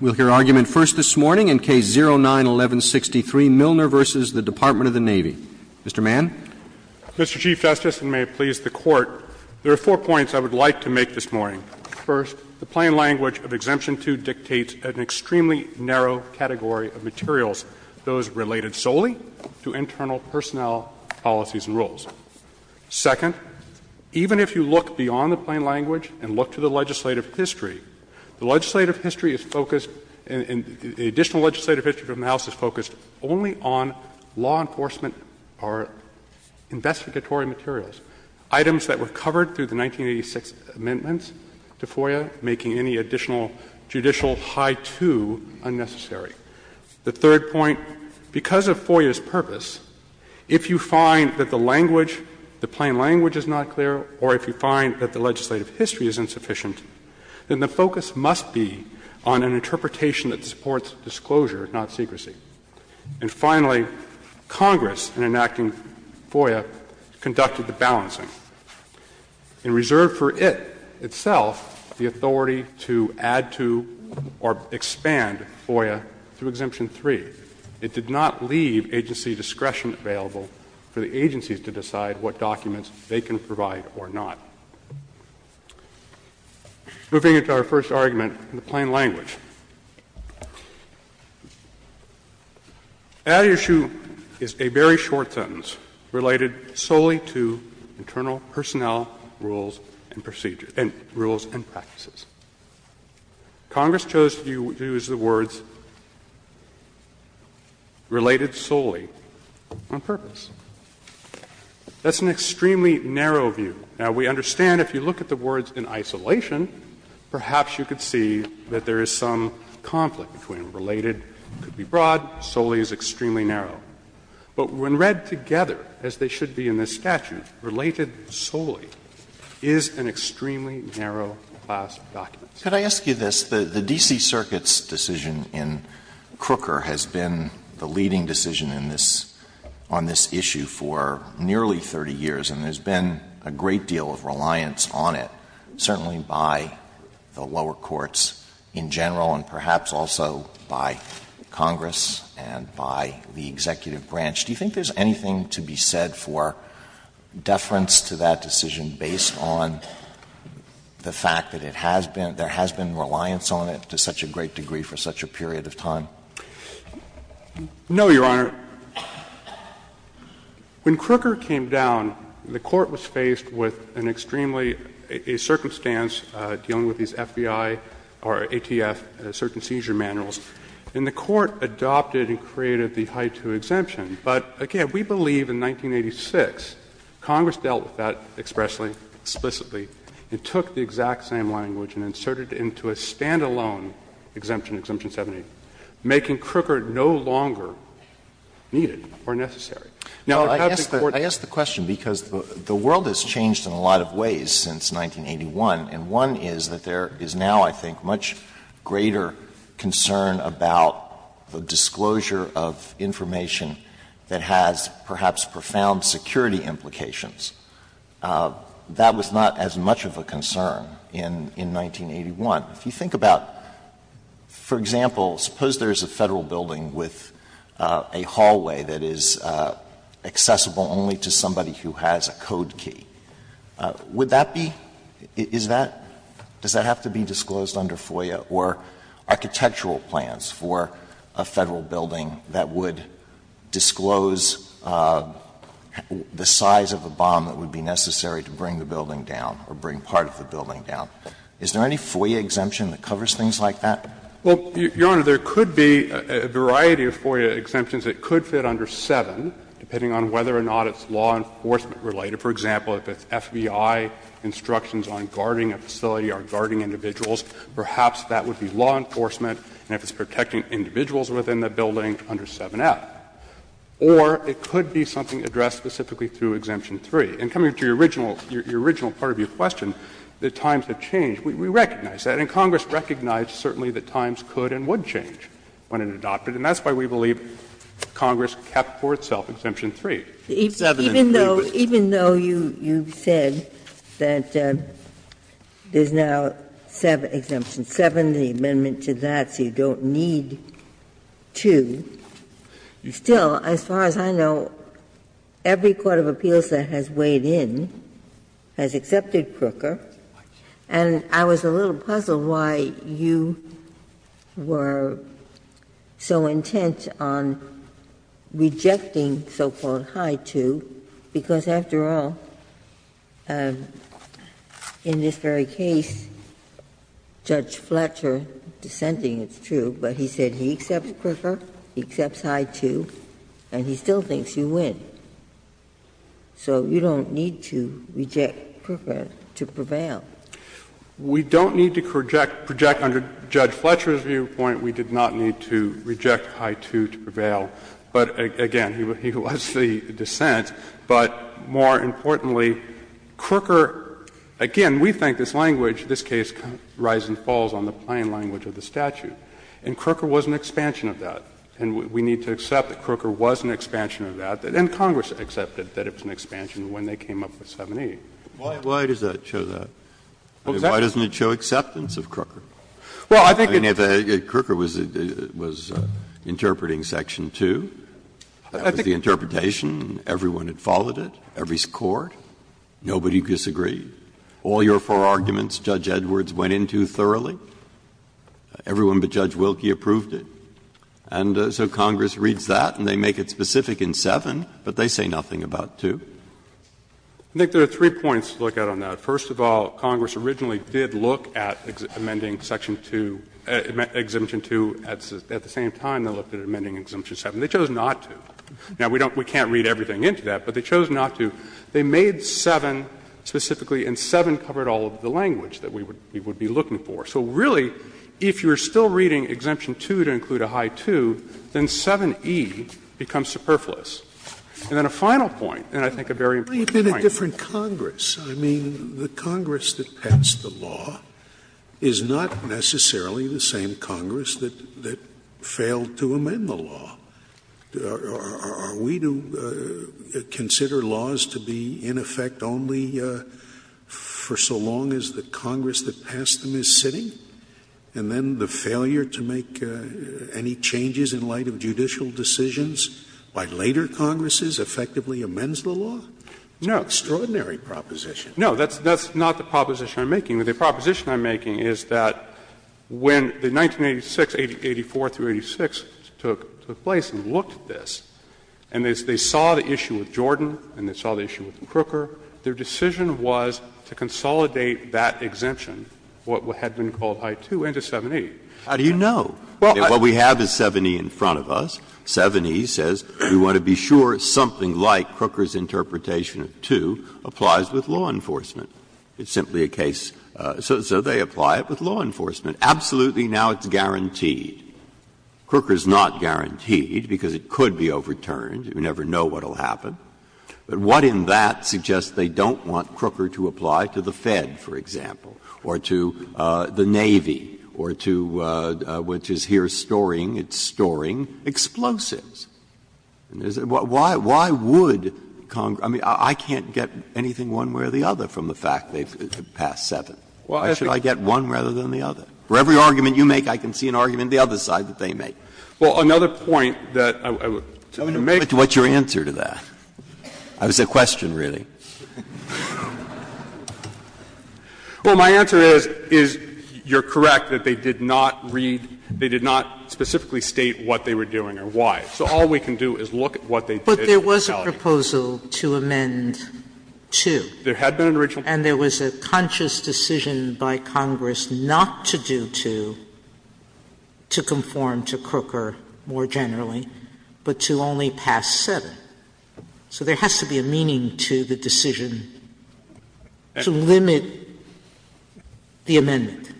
Mr. Mann. Mr. Chief Justice, and may it please the Court, there are four points I would like to make this morning. First, the plain language of Exemption 2 dictates an extremely narrow category of materials, those related solely to internal personnel policies and rules. Second, even if you look beyond the plain language and look to the legislative history, you will find that the plain language of Exemption 2 dictates an extremely narrow category of materials, those related solely to internal personnel policies and rules. The legislative history is focused, the additional legislative history from the House is focused only on law enforcement or investigatory materials, items that were covered through the 1986 amendments to FOIA, making any additional judicial high too unnecessary. The third point, because of FOIA's purpose, if you find that the language, the plain language is not clear, or if you find that the legislative history is insufficient, then the focus must be on an interpretation that supports disclosure, not secrecy. And finally, Congress, in enacting FOIA, conducted the balancing. In reserve for it, itself, the authority to add to or expand FOIA through Exemption 3, it did not leave agency discretion available for the agencies to decide what documents they can provide or not. Moving into our first argument, the plain language. That issue is a very short sentence, related solely to internal personnel rules and procedures — and rules and practices. Congress chose to use the words related solely on purpose. That's an extremely narrow view. Now, we understand if you look at the words in isolation, perhaps you could see that there is some conflict between related, could be broad, solely is extremely narrow. But when read together, as they should be in this statute, related solely is an extremely narrow class of documents. Alito, the D.C. Circuit's decision in Crooker has been the leading decision in this on this issue for nearly 30 years, and there's been a great deal of reliance on it, certainly by the lower courts in general, and perhaps also by Congress and by the executive branch. Do you think there's anything to be said for deference to that decision based on the fact that it has been, there has been reliance on it to such a great degree for such a period of time? No, Your Honor. When Crooker came down, the Court was faced with an extremely, a circumstance dealing with these FBI or ATF, certain seizure manuals, and the Court adopted and created the High 2 exemption. But again, we believe in 1986, Congress dealt with that expressly, explicitly, and took the exact same language and inserted it into a standalone exemption, Exemption 70, making Crooker no longer needed or necessary. Now, the fact that Court I ask the question because the world has changed in a lot of ways since 1981, and one is that there is now, I think, much greater concern about the disclosure of information that has perhaps profound security implications. That was not as much of a concern in 1981. If you think about, for example, suppose there is a Federal building with a hallway that is accessible only to somebody who has a code key. Would that be, is that, does that have to be disclosed under FOIA or architectural plans for a Federal building that would disclose the size of a bomb that would be necessary to bring the building down or bring part of the building down? Is there any FOIA exemption that covers things like that? Well, Your Honor, there could be a variety of FOIA exemptions that could fit under 7, depending on whether or not it's law enforcement related. For example, if it's FBI instructions on guarding a facility or guarding individuals, perhaps that would be law enforcement, and if it's protecting individuals within the building, under 7F. Or it could be something addressed specifically through Exemption 3. And coming to your original part of your question, the times have changed. We recognize that. And Congress recognized certainly that times could and would change when it adopted. And that's why we believe Congress kept for itself Exemption 3. Ginsburg. Even though you said that there is now Exemption 7, the amendment to that, so you don't need 2, still, as far as I know, every court of appeals that has weighed in has accepted Prooker. And I was a little puzzled why you were so intent on rejecting so-called High 2, because after all, in this very case, Judge Fletcher dissenting is true, but he said he accepts Prooker, he accepts High 2, and he still thinks you win. So you don't need to reject Prooker to prevail. We don't need to project under Judge Fletcher's viewpoint, we did not need to reject High 2 to prevail. But, again, he was the dissent. But more importantly, Prooker, again, we think this language, this case, rises and falls on the plain language of the statute. And Prooker was an expansion of that. And we need to accept that Prooker was an expansion of that, and Congress accepted that it was an expansion when they came up with 780. Breyer, why does that show that? Why doesn't it show acceptance of Prooker? I mean, if Prooker was interpreting Section 2, the interpretation, everyone had followed it, every court, nobody disagreed. All your four arguments Judge Edwards went into thoroughly, everyone but Judge Wilkie approved it. And so Congress reads that and they make it specific in 7, but they say nothing about 2. I think there are three points to look at on that. First of all, Congress originally did look at amending Section 2, Exemption 2 at the same time they looked at amending Exemption 7. They chose not to. Now, we can't read everything into that, but they chose not to. They made 7 specifically, and 7 covered all of the language that we would be looking for. So really, if you are still reading Exemption 2 to include a High 2, then 7e becomes superfluous. And then a final point, and I think a very important point. Scalia. It might have been a different Congress. I mean, the Congress that passed the law is not necessarily the same Congress that failed to amend the law. Are we to consider laws to be in effect only for so long as the Congress that passed them is sitting, and then the failure to make any changes in light of judicial decisions by later Congresses effectively amends the law? No. It's an extraordinary proposition. No. That's not the proposition I'm making. The proposition I'm making is that when the 1986, 84 through 86 took place and looked at this, and they saw the issue with Jordan and they saw the issue with Crooker, their decision was to consolidate that exemption, what had been called High 2, into 7e. How do you know? What we have is 7e in front of us. 7e says we want to be sure something like Crooker's interpretation of 2 applies with law enforcement. It's simply a case so they apply it with law enforcement. Absolutely, now it's guaranteed. Crooker is not guaranteed because it could be overturned. We never know what will happen. But what in that suggests they don't want Crooker to apply to the Fed, for example, or to the Navy, or to what is here storing, it's storing explosives? Why would Congress – I mean, I can't get anything one way or the other from the fact they've passed 7. Why should I get one rather than the other? For every argument you make, I can see an argument the other side that they make. Well, another point that I would make. What's your answer to that? That was a question, really. Well, my answer is, is you're correct that they did not read – they did not specifically state what they were doing or why. So all we can do is look at what they did in reality. Sotomayor But there was a proposal to amend 2. And there was a conscious decision by Congress not to do 2 to conform to Crooker more generally, but to only pass 7. So there has to be a meaning to the decision to limit the amendment.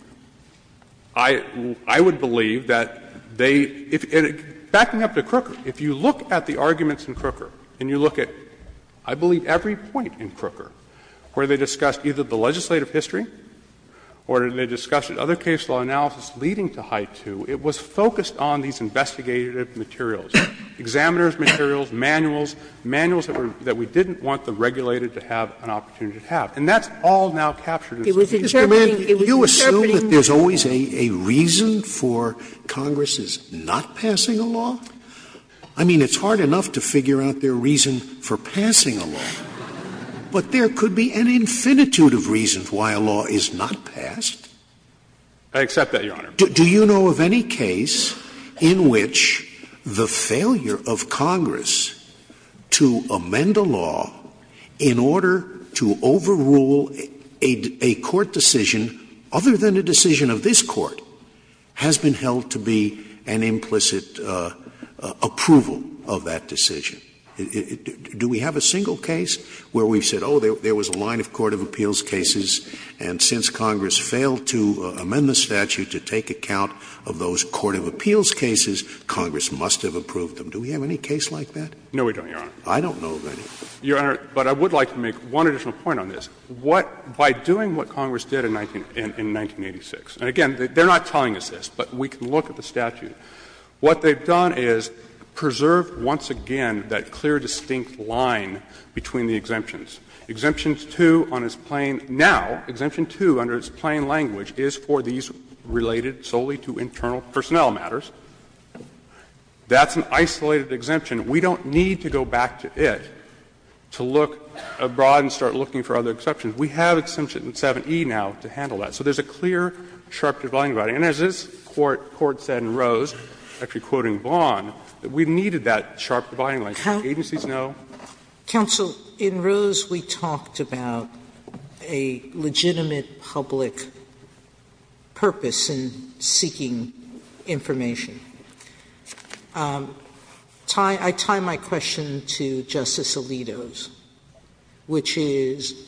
I would believe that they – backing up to Crooker, if you look at the arguments in Crooker, and you look at, I believe, every point in Crooker where they discussed either the legislative history or they discussed other case law analysis leading to High 2, it was focused on these investigative materials, examiners' materials, manuals, manuals that we didn't want the regulator to have an opportunity to have. And that's all now captured in the decision to amend. Sotomayor It was interpreting – it was interpreting the law. Scalia You assume that there's always a reason for Congress's not passing a law? I mean, it's hard enough to figure out their reason for passing a law. But there could be an infinitude of reasons why a law is not passed. I accept that, Your Honor. Scalia Do you know of any case in which the failure of Congress to amend a law in order to overrule a court decision other than a decision of this Court has been held to be an implicit approval of that decision? Do we have a single case where we've said, oh, there was a line of court of appeals cases, and since Congress failed to amend the statute to take account of those court of appeals cases, Congress must have approved them? Do we have any case like that? No, we don't, Your Honor. Scalia I don't know of any. Roberts Your Honor, but I would like to make one additional point on this. What – by doing what Congress did in 1986, and again, they're not telling us this, but we can look at the statute. What they've done is preserve once again that clear, distinct line between the exemptions. Exemption 2 on its plain – now, exemption 2 under its plain language is for these related solely to internal personnel matters. That's an isolated exemption. We don't need to go back to it to look abroad and start looking for other exceptions. We have Exemption 7e now to handle that. So there's a clear, sharp dividing line. And as this Court said in Rose, actually quoting Vaughan, that we needed that sharp dividing line. Agencies know. Sotomayor Counsel, in Rose we talked about a legitimate public purpose in seeking information. I tie my question to Justice Alito's, which is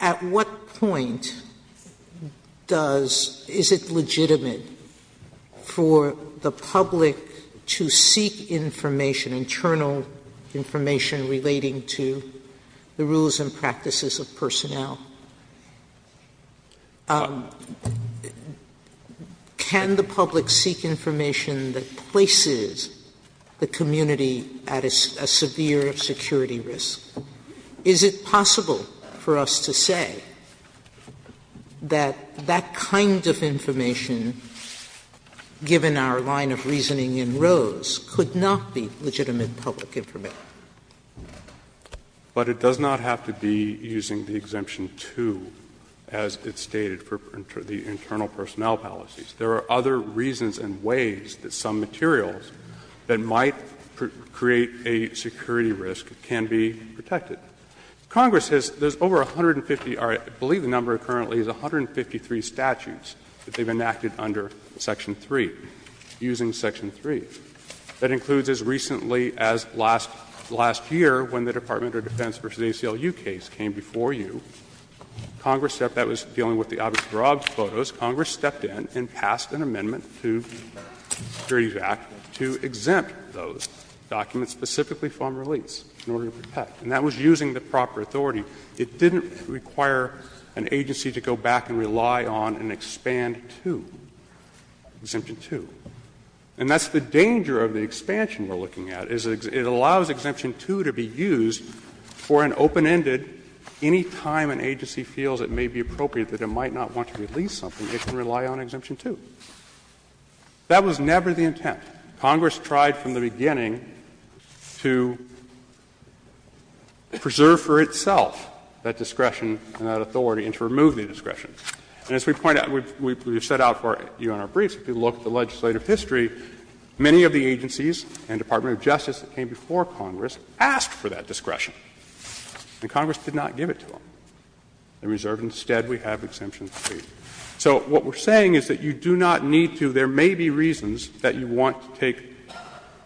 at what point does – is it legitimate for the public to seek information, internal information relating to the rules and practices of personnel? Can the public seek information that places the community at a severe security risk? Is it possible for us to say that that kind of information, given our line of reasoning in Rose, could not be legitimate public information? But it does not have to be using the exemption 2, as it's stated, for the internal personnel policies. There are other reasons and ways that some materials that might create a security risk can be protected. Congress has – there's over 150 – I believe the number currently is 153 statutes that they've enacted under Section 3, using Section 3. That includes as recently as last year when the Department of Defense v. ACLU case came before you, Congress – that was dealing with the Obama-Girard photos – Congress stepped in and passed an amendment to the Security Act to exempt those documents specifically from release in order to protect. And that was using the proper authority. It didn't require an agency to go back and rely on an Expand 2, Exemption 2. And that's the danger of the expansion we're looking at, is it allows Exemption 2 to be used for an open-ended, any time an agency feels it may be appropriate that it might not want to release something, it can rely on Exemption 2. That was never the intent. Congress tried from the beginning to preserve for itself that discretion and that authority and to remove the discretion. And as we point out, we've set out for you on our briefs, if you look at the legislative history, many of the agencies and Department of Justice that came before Congress asked for that discretion. And Congress did not give it to them. They reserved. Instead, we have Exemption 3. So what we're saying is that you do not need to – there may be reasons that you want to take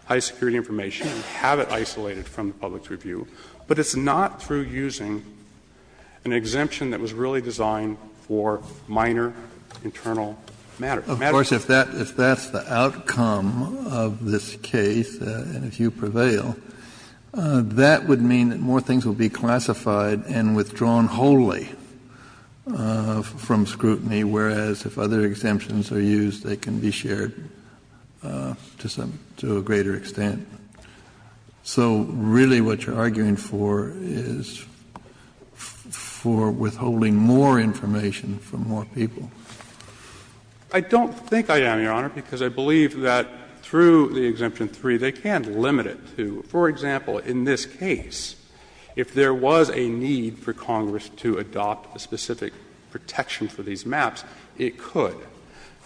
high-security information and have it isolated from the public's review, but it's not through using an exemption that was really designed for minor internal matters. Kennedy, of course, if that's the outcome of this case, and if you prevail, that would mean that more things would be classified and withdrawn wholly from scrutiny, whereas if other exemptions are used, they can be shared to a greater extent. So really what you're arguing for is for withholding more information from more people. I don't think I am, Your Honor, because I believe that through the Exemption 3, they can't limit it to, for example, in this case, if there was a need for Congress to adopt a specific protection for these maps, it could.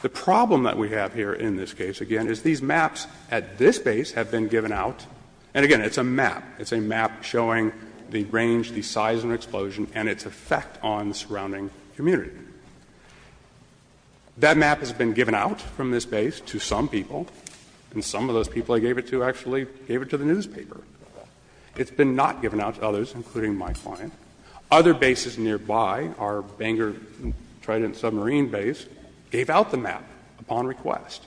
The problem that we have here in this case, again, is these maps at this base have been given out, and again, it's a map. It's a map showing the range, the size of an explosion, and its effect on the surrounding community. That map has been given out from this base to some people, and some of those people I gave it to actually gave it to the newspaper. It's been not given out to others, including my client. Other bases nearby, our Bangor Trident submarine base, gave out the map upon request.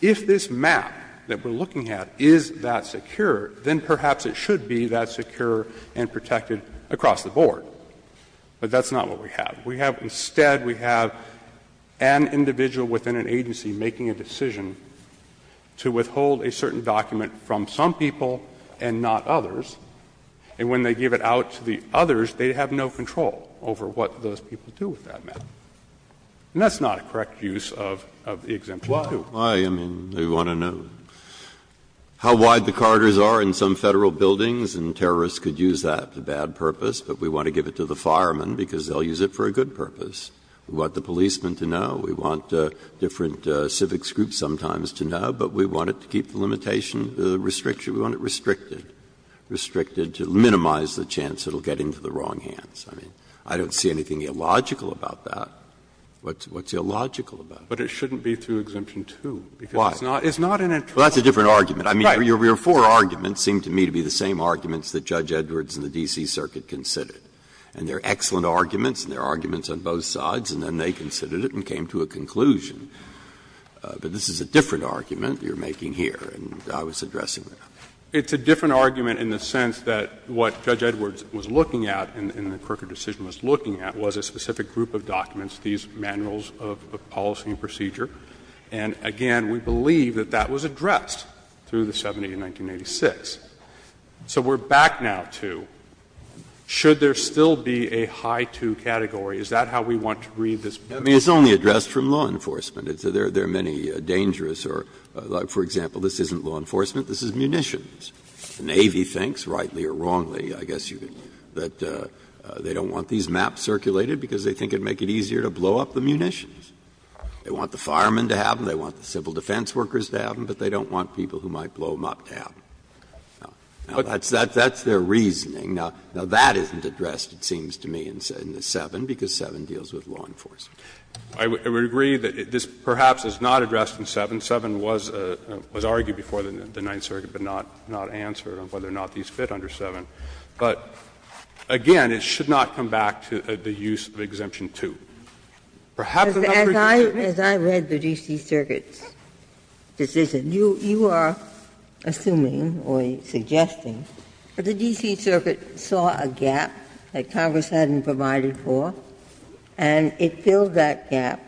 If this map that we're looking at is that secure, then perhaps it should be that secure and protected across the board. But that's not what we have. We have — instead, we have an individual within an agency making a decision to withhold a certain document from some people and not others, and when they give it out to the others, they have no control over what those people do with that map. And that's not a correct use of the exemption 2. Breyer, I mean, they want to know how wide the corridors are in some Federal buildings, and terrorists could use that for bad purpose, but we want to give it to the firemen because they'll use it for a good purpose. We want the policemen to know. We want different civics groups sometimes to know, but we want it to keep the limitation of the restriction, we want it restricted, restricted to minimize the chance it'll get into the wrong hands. I mean, I don't see anything illogical about that. What's illogical about that? But it shouldn't be through Exemption 2, because it's not an interest. Well, that's a different argument. I mean, your four arguments seem to me to be the same arguments that Judge Edwards and the D.C. Circuit considered. And they're excellent arguments, and they're arguments on both sides, and then they considered it and came to a conclusion. But this is a different argument you're making here, and I was addressing that. It's a different argument in the sense that what Judge Edwards was looking at and the Crooker decision was looking at was a specific group of documents, these manuals of policy and procedure. And again, we believe that that was addressed through the 70 in 1986. So we're back now to should there still be a High 2 category, is that how we want to read this? Breyer, I mean, it's only addressed from law enforcement. There are many dangerous or, for example, this isn't law enforcement, this is munitions. The Navy thinks, rightly or wrongly, I guess you could, that they don't want these maps circulated because they think it would make it easier to blow up the munitions. They want the firemen to have them, they want the civil defense workers to have them, but they don't want people who might blow them up to have them. Now, that's their reasoning. Now, that isn't addressed, it seems to me, in the 7, because 7 deals with law enforcement. I would agree that this perhaps is not addressed in 7. 7 was argued before the Ninth Circuit, but not answered on whether or not these fit under 7. But again, it should not come back to the use of Exemption 2. Perhaps it's not addressed in 7. Ginsburg. Ginsburg. As I read the D.C. Circuit's decision, you are assuming or suggesting that the D.C. Circuit has filled that gap,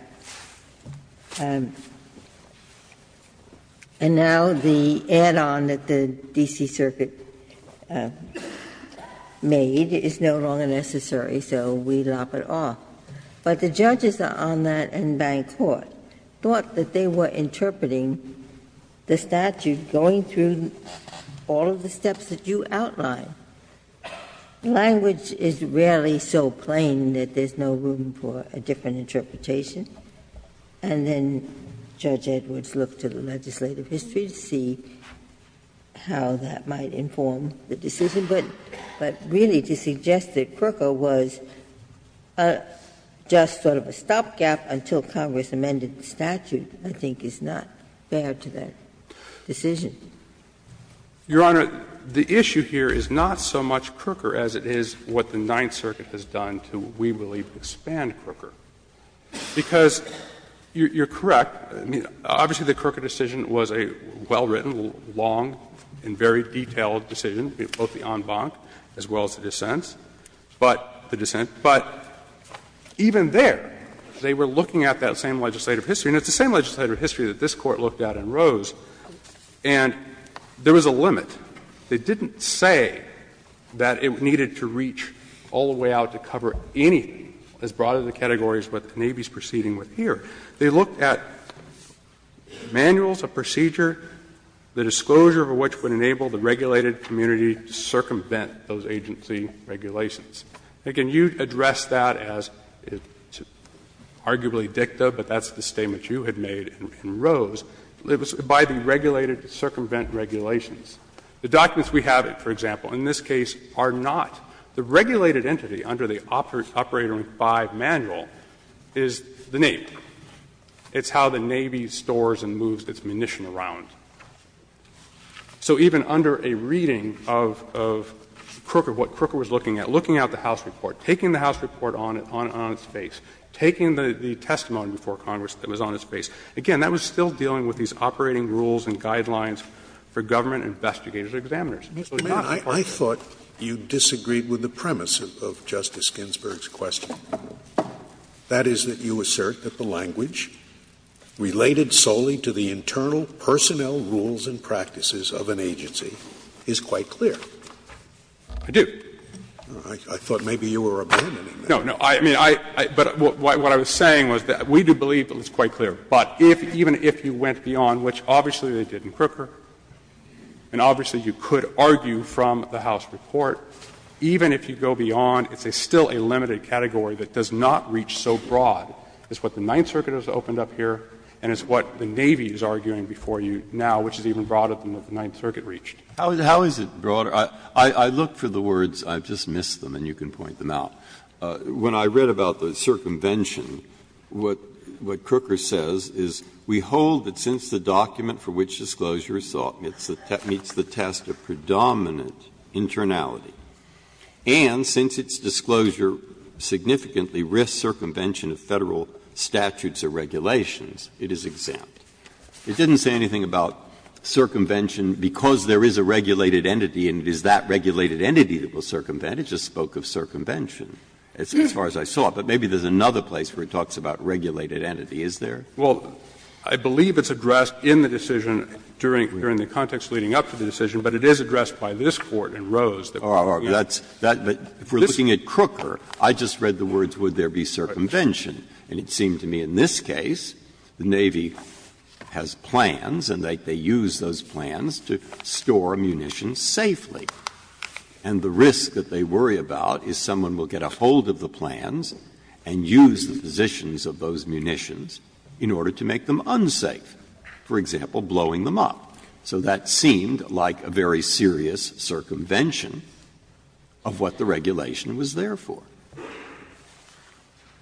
and now the add-on that the D.C. Circuit made is no longer necessary, so we lop it off. But the judges are on that in Bank Court, thought that they were interpreting the statute going through all of the steps that you outlined. Language is rarely so plain that there's no room for a different interpretation. And then Judge Edwards looked to the legislative history to see how that might inform the decision. But really to suggest that Crooker was just sort of a stopgap until Congress amended the statute, I think, is not fair to that decision. Your Honor, the issue here is not so much Crooker as it is what the Ninth Circuit has done to, we believe, expand Crooker. Because you're correct, I mean, obviously the Crooker decision was a well-written, long, and very detailed decision, both the en banc as well as the dissent, but the dissent. But even there, they were looking at that same legislative history. And it's the same legislative history that this Court looked at in Rose, and there was a limit. They didn't say that it needed to reach all the way out to cover anything as broad as the categories what the Navy is proceeding with here. They looked at manuals of procedure, the disclosure of which would enable the regulated community to circumvent those agency regulations. And can you address that as arguably dicta, but that's the statement you had made in Rose, by the regulated to circumvent regulations. The documents we have, for example, in this case are not. The regulated entity under the Operator 5 manual is the Navy. It's how the Navy stores and moves its munition around. So even under a reading of Crooker, what Crooker was looking at, looking at the House report, taking the House report on its face, taking the testimony before Congress that was on its face, again, that was still dealing with these operating rules and guidelines for government investigators and examiners. Scalia. I thought you disagreed with the premise of Justice Ginsburg's question. That is, that you assert that the language related solely to the internal personnel rules and practices of an agency is quite clear. I do. I thought maybe you were abandoning that. No, no. I mean, I — but what I was saying was that we do believe it was quite clear. But if — even if you went beyond, which obviously they did in Crooker, and obviously you could argue from the House report, even if you go beyond, it's still a limited category that does not reach so broad as what the Ninth Circuit has opened up here and as what the Navy is arguing before you now, which is even broader than what the Ninth Circuit reached. How is it broader? I look for the words. I just missed them, and you can point them out. When I read about the circumvention, what Crooker says is, We hold that since the document for which disclosure is sought meets the test of predominant internality, and since its disclosure significantly risks circumvention of Federal statutes or regulations, it is exempt. It didn't say anything about circumvention because there is a regulated entity and it is that regulated entity that will circumvent. It just spoke of circumvention, as far as I saw. But maybe there's another place where it talks about regulated entity, is there? Well, I believe it's addressed in the decision during the context leading up to the decision, but it is addressed by this Court in Rose that we're looking at. Breyer. But if we're looking at Crooker, I just read the words, would there be circumvention. And it seemed to me in this case, the Navy has plans and they use those plans to store munitions safely. And the risk that they worry about is someone will get a hold of the plans and use the positions of those munitions in order to make them unsafe, for example, blowing them up. So that seemed like a very serious circumvention of what the regulation was there for.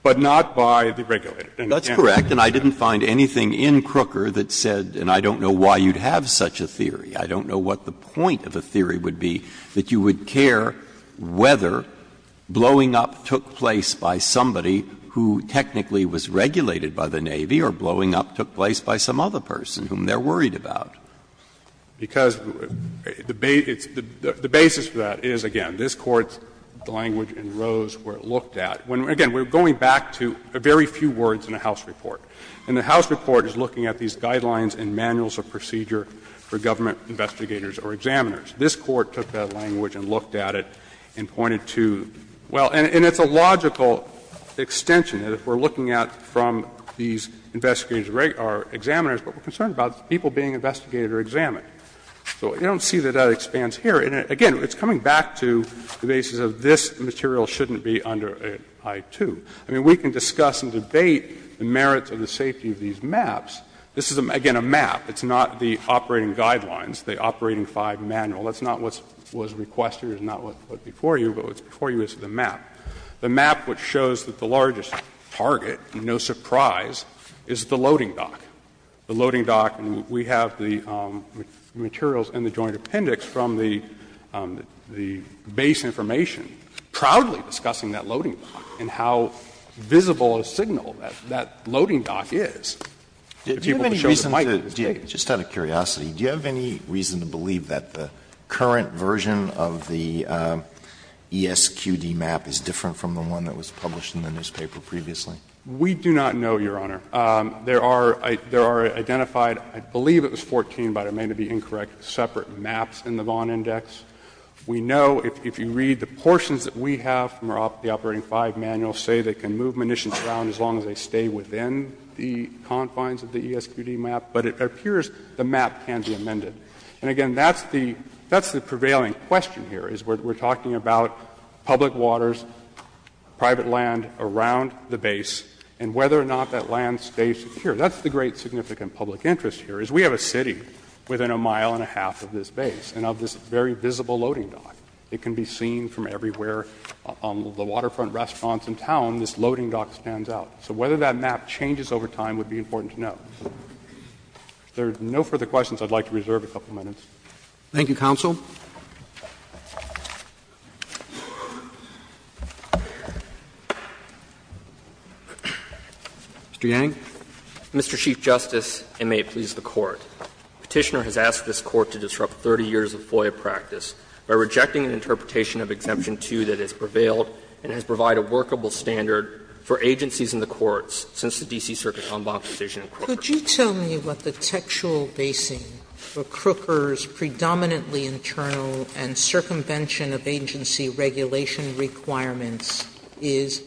But not by the regulator. That's correct. And I didn't find anything in Crooker that said, and I don't know why you'd have such a theory, I don't know what the point of a theory would be, that you would care whether blowing up took place by somebody who technically was regulated by the Navy, or blowing up took place by some other person whom they're worried about. Because the basis for that is, again, this Court's language in Rose where it looked at, when, again, we're going back to a very few words in the House report. And the House report is looking at these guidelines and manuals of procedure for government investigators or examiners. This Court took that language and looked at it and pointed to, well, and it's a logical extension that if we're looking at from these investigators or examiners what we're concerned about is people being investigated or examined. So you don't see that that expands here. And, again, it's coming back to the basis of this material shouldn't be under I-2. I mean, we can discuss and debate the merits of the safety of these maps. This is, again, a map. It's not the operating guidelines, the Operating 5 manual. That's not what was requested. It's not what was before you, but what's before you is the map. The map which shows that the largest target, no surprise, is the loading dock. The loading dock, and we have the materials in the Joint Appendix from the base information proudly discussing that loading dock and how visible a signal that loading dock is. Alito, just out of curiosity, do you have any reason to believe that the current version of the ESQD map is different from the one that was published in the newspaper previously? We do not know, Your Honor. There are identified, I believe it was 14, but it may be incorrect, separate maps in the Vaughan Index. We know if you read the portions that we have from the Operating 5 manual say they can move munitions around as long as they stay within the confines of the ESQD map, but it appears the map can be amended. And, again, that's the prevailing question here, is we're talking about public waters, private land around the base, and whether or not that land stays secure. That's the great significant public interest here, is we have a city within a mile and a half of this base and of this very visible loading dock. It can be seen from everywhere. On the waterfront restaurants in town, this loading dock stands out. So whether that map changes over time would be important to know. If there are no further questions, I would like to reserve a couple of minutes. Roberts, Thank you, counsel. Mr. Yang. Yang, Mr. Chief Justice, and may it please the Court. Petitioner has asked this Court to disrupt 30 years of FOIA practice by rejecting an interpretation of Exemption 2 that has prevailed and has provided a workable standard for agencies in the courts since the D.C. Circuit's en banc decision in Crooker. Sotomayor, could you tell me what the textual basing for Crooker's predominantly internal and circumvention of agency regulation requirements is?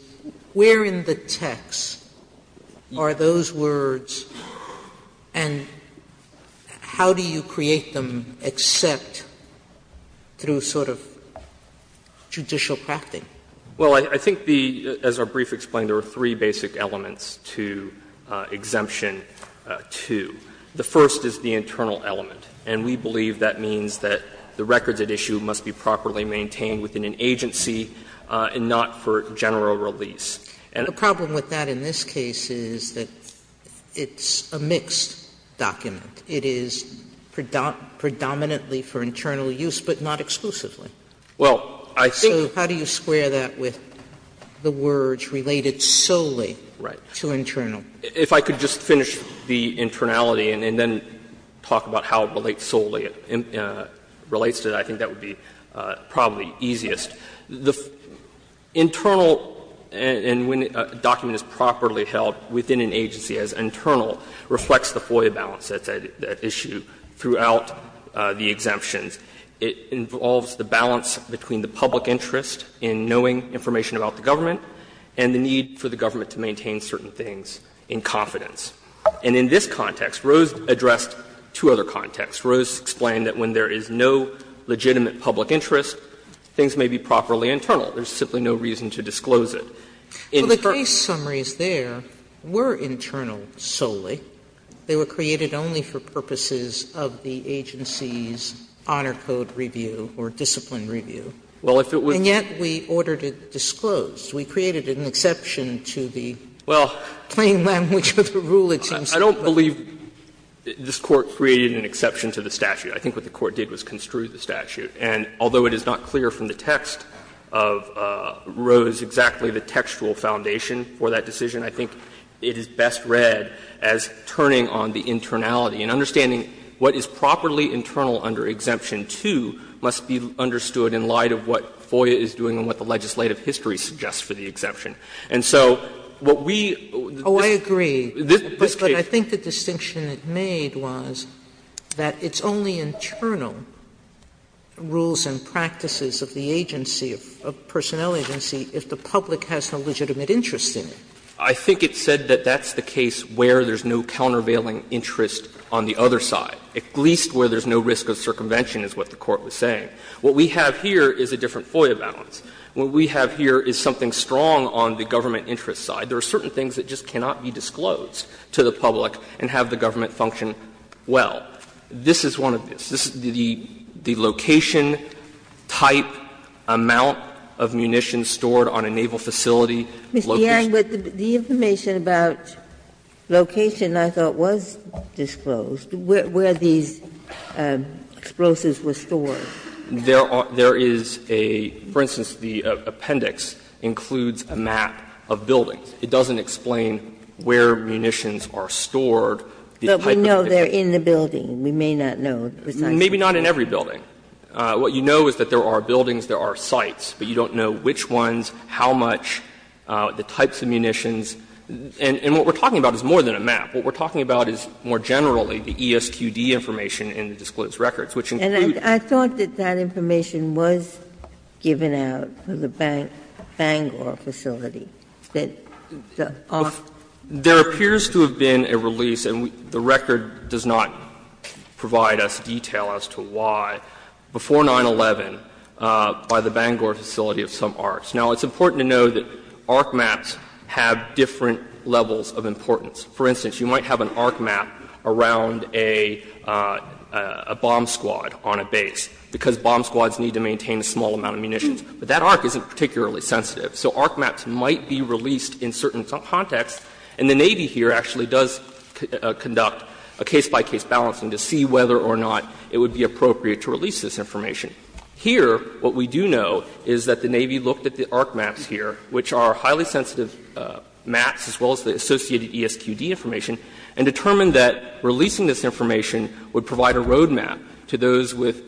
Where in the text are those words, and how do you create them except through sort of judicial practice? Yang, Well, I think the as our brief explained, there are three basic elements to Exemption 2. The first is the internal element, and we believe that means that the records at issue must be properly maintained within an agency and not for general release. Sotomayor, The problem with that in this case is that it's a mixed document. It is predominantly for internal use, but not exclusively. Yang, Well, I think Sotomayor, So how do you square that with the words related solely to internal? Yang, If I could just finish the internality and then talk about how it relates solely, it relates to that, I think that would be probably easiest. The internal, and when a document is properly held within an agency as internal, reflects the FOIA balance that's at issue throughout the exemptions. It involves the balance between the public interest in knowing information about the government and the need for the government to maintain certain things in confidence. And in this context, Rose addressed two other contexts. Rose explained that when there is no legitimate public interest, things may be properly internal. There's simply no reason to disclose it. Sotomayor, Well, the case summaries there were internal solely. They were created only for purposes of the agency's honor code review or discipline Yang, Well, if it was Sotomayor, and yet we ordered it disclosed. We created an exception to the plain language of the rule, it seems to me. Yang, Well, I don't believe this Court created an exception to the statute. I think what the Court did was construe the statute. And although it is not clear from the text of Rose exactly the textual foundation for that decision, I think it is best read as turning on the internality and understanding what is properly internal under Exemption 2 must be understood in light of what FOIA is doing and what the legislative history suggests for the exemption. And so what we Sotomayor, Oh, I agree, but I think the distinction it made was that it's only internal rules and practices of the agency, of personnel agency, if the public has no legitimate interest in it. Yang, Well, I think it said that that's the case where there's no countervailing interest on the other side, at least where there's no risk of circumvention, is what the Court was saying. What we have here is a different FOIA balance. What we have here is something strong on the government interest side. There are certain things that just cannot be disclosed to the public and have the government function well. This is one of those. The location, type, amount of munitions stored on a naval facility, level of ammunition location. The information about location, I thought, was disclosed, where these explosives were stored. There is a, for instance, the appendix includes a map of buildings. It doesn't explain where munitions are stored, the type of munitions. But we know they're in the building. We may not know precisely. Maybe not in every building. What you know is that there are buildings, there are sites, but you don't know which types of munitions. And what we're talking about is more than a map. What we're talking about is more generally the ESQD information in the disclosed records, which includes. Ginsburg. And I thought that that information was given out to the Bangor facility, that the ARC. There appears to have been a release, and the record does not provide us detail as to why, before 9-11 by the Bangor facility of some ARCs. Now, it's important to know that ARC maps have different levels of importance. For instance, you might have an ARC map around a bomb squad on a base, because bomb squads need to maintain a small amount of munitions. But that ARC isn't particularly sensitive. So ARC maps might be released in certain contexts, and the Navy here actually does conduct a case-by-case balancing to see whether or not it would be appropriate to release this information. Here, what we do know is that the Navy looked at the ARC maps here, which are highly sensitive maps, as well as the associated ESQD information, and determined that releasing this information would provide a road map to those with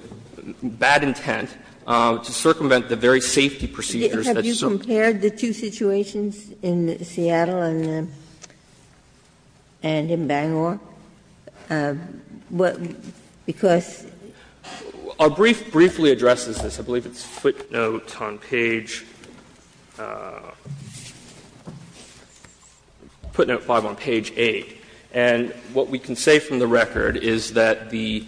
bad intent to circumvent the very safety procedures that you're supposed to do. Ginsburg. Have you compared the two situations in Seattle and in Bangor? Because the two are very similar. Our brief briefly addresses this. I believe it's footnote on page — footnote 5 on page 8. And what we can say from the record is that the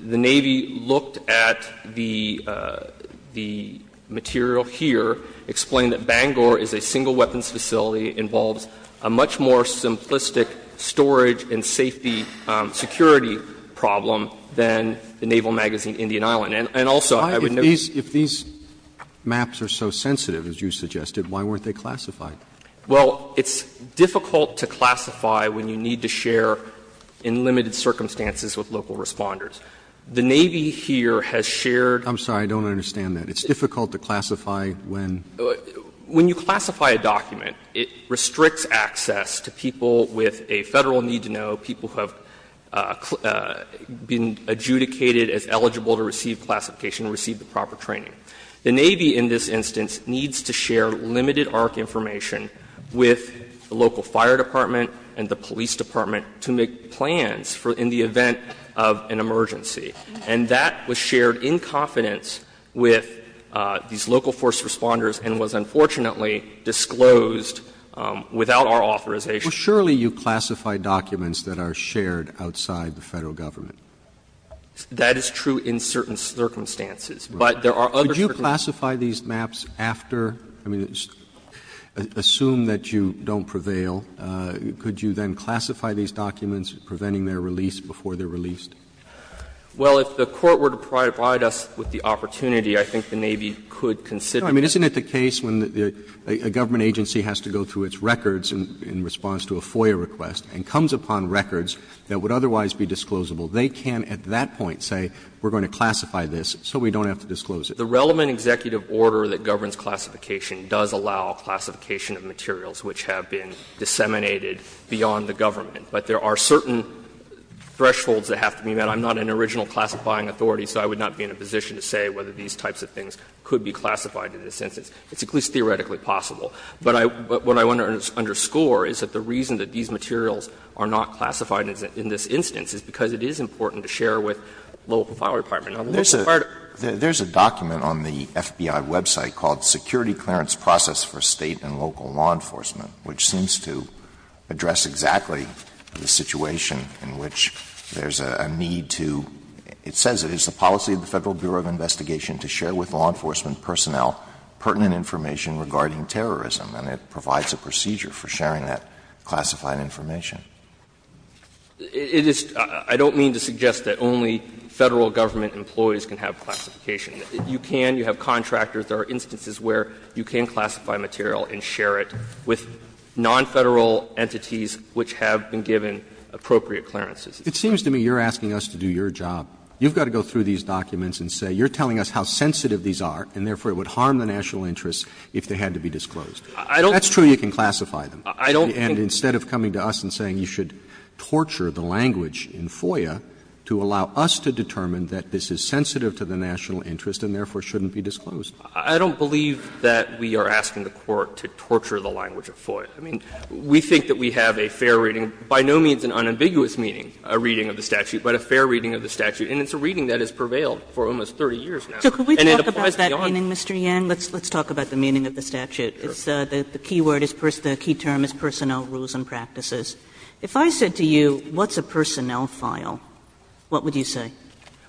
Navy looked at the material here, explained that Bangor is a single weapons facility, involves a much more simplistic storage and safety security problem than the Naval Magazine, Indian Island. And also, I would note that Roberts. If these maps are so sensitive, as you suggested, why weren't they classified? Well, it's difficult to classify when you need to share in limited circumstances with local responders. The Navy here has shared I'm sorry, I don't understand that. It's difficult to classify when When you classify a document, it restricts access to people with a Federal need-to-know, people who have been adjudicated as eligible to receive classification and receive the proper training. The Navy, in this instance, needs to share limited ARC information with the local fire department and the police department to make plans in the event of an emergency. And that was shared in confidence with these local force responders and was unfortunately disclosed without our authorization. Well, surely you classify documents that are shared outside the Federal government. That is true in certain circumstances, but there are other circumstances. Could you classify these maps after, I mean, assume that you don't prevail. Could you then classify these documents, preventing their release before they're released? Well, if the Court were to provide us with the opportunity, I think the Navy could consider it. I mean, isn't it the case when a government agency has to go through its records in response to a FOIA request and comes upon records that would otherwise be disclosable, they can at that point say, we're going to classify this so we don't have to disclose it. The relevant executive order that governs classification does allow classification of materials which have been disseminated beyond the government. But there are certain thresholds that have to be met. I'm not an original classifying authority, so I would not be in a position to say whether these types of things could be classified in this instance. It's at least theoretically possible. But I what I want to underscore is that the reason that these materials are not classified in this instance is because it is important to share with the local FOIA department. Now, the local FOIA department. Alito, there's a document on the FBI website called Security Clearance Process for State and Local Law Enforcement, which seems to address exactly the situation in which there's a need to — it says it is the policy of the Federal Bureau of Investigation to share with law enforcement personnel pertinent information regarding terrorism, and it provides a procedure for sharing that classified information. It is — I don't mean to suggest that only Federal government employees can have classification. You can. You have contractors. There are instances where you can classify material and share it with non-Federal entities which have been given appropriate clearances. Roberts. Roberts. It seems to me you're asking us to do your job. You've got to go through these documents and say you're telling us how sensitive these are, and therefore it would harm the national interest if they had to be disclosed. That's true you can classify them. And instead of coming to us and saying you should torture the language in FOIA to allow us to determine that this is sensitive to the national interest and therefore shouldn't be disclosed. I don't believe that we are asking the Court to torture the language of FOIA. I mean, we think that we have a fair reading, by no means an unambiguous reading of the statute, but a fair reading of the statute. And it's a reading that has prevailed for almost 30 years now. And it applies to the audience. Kagan. Kagan. Let's talk about the meaning of the statute. The key word is — the key term is personnel rules and practices. If I said to you, what's a personnel file, what would you say?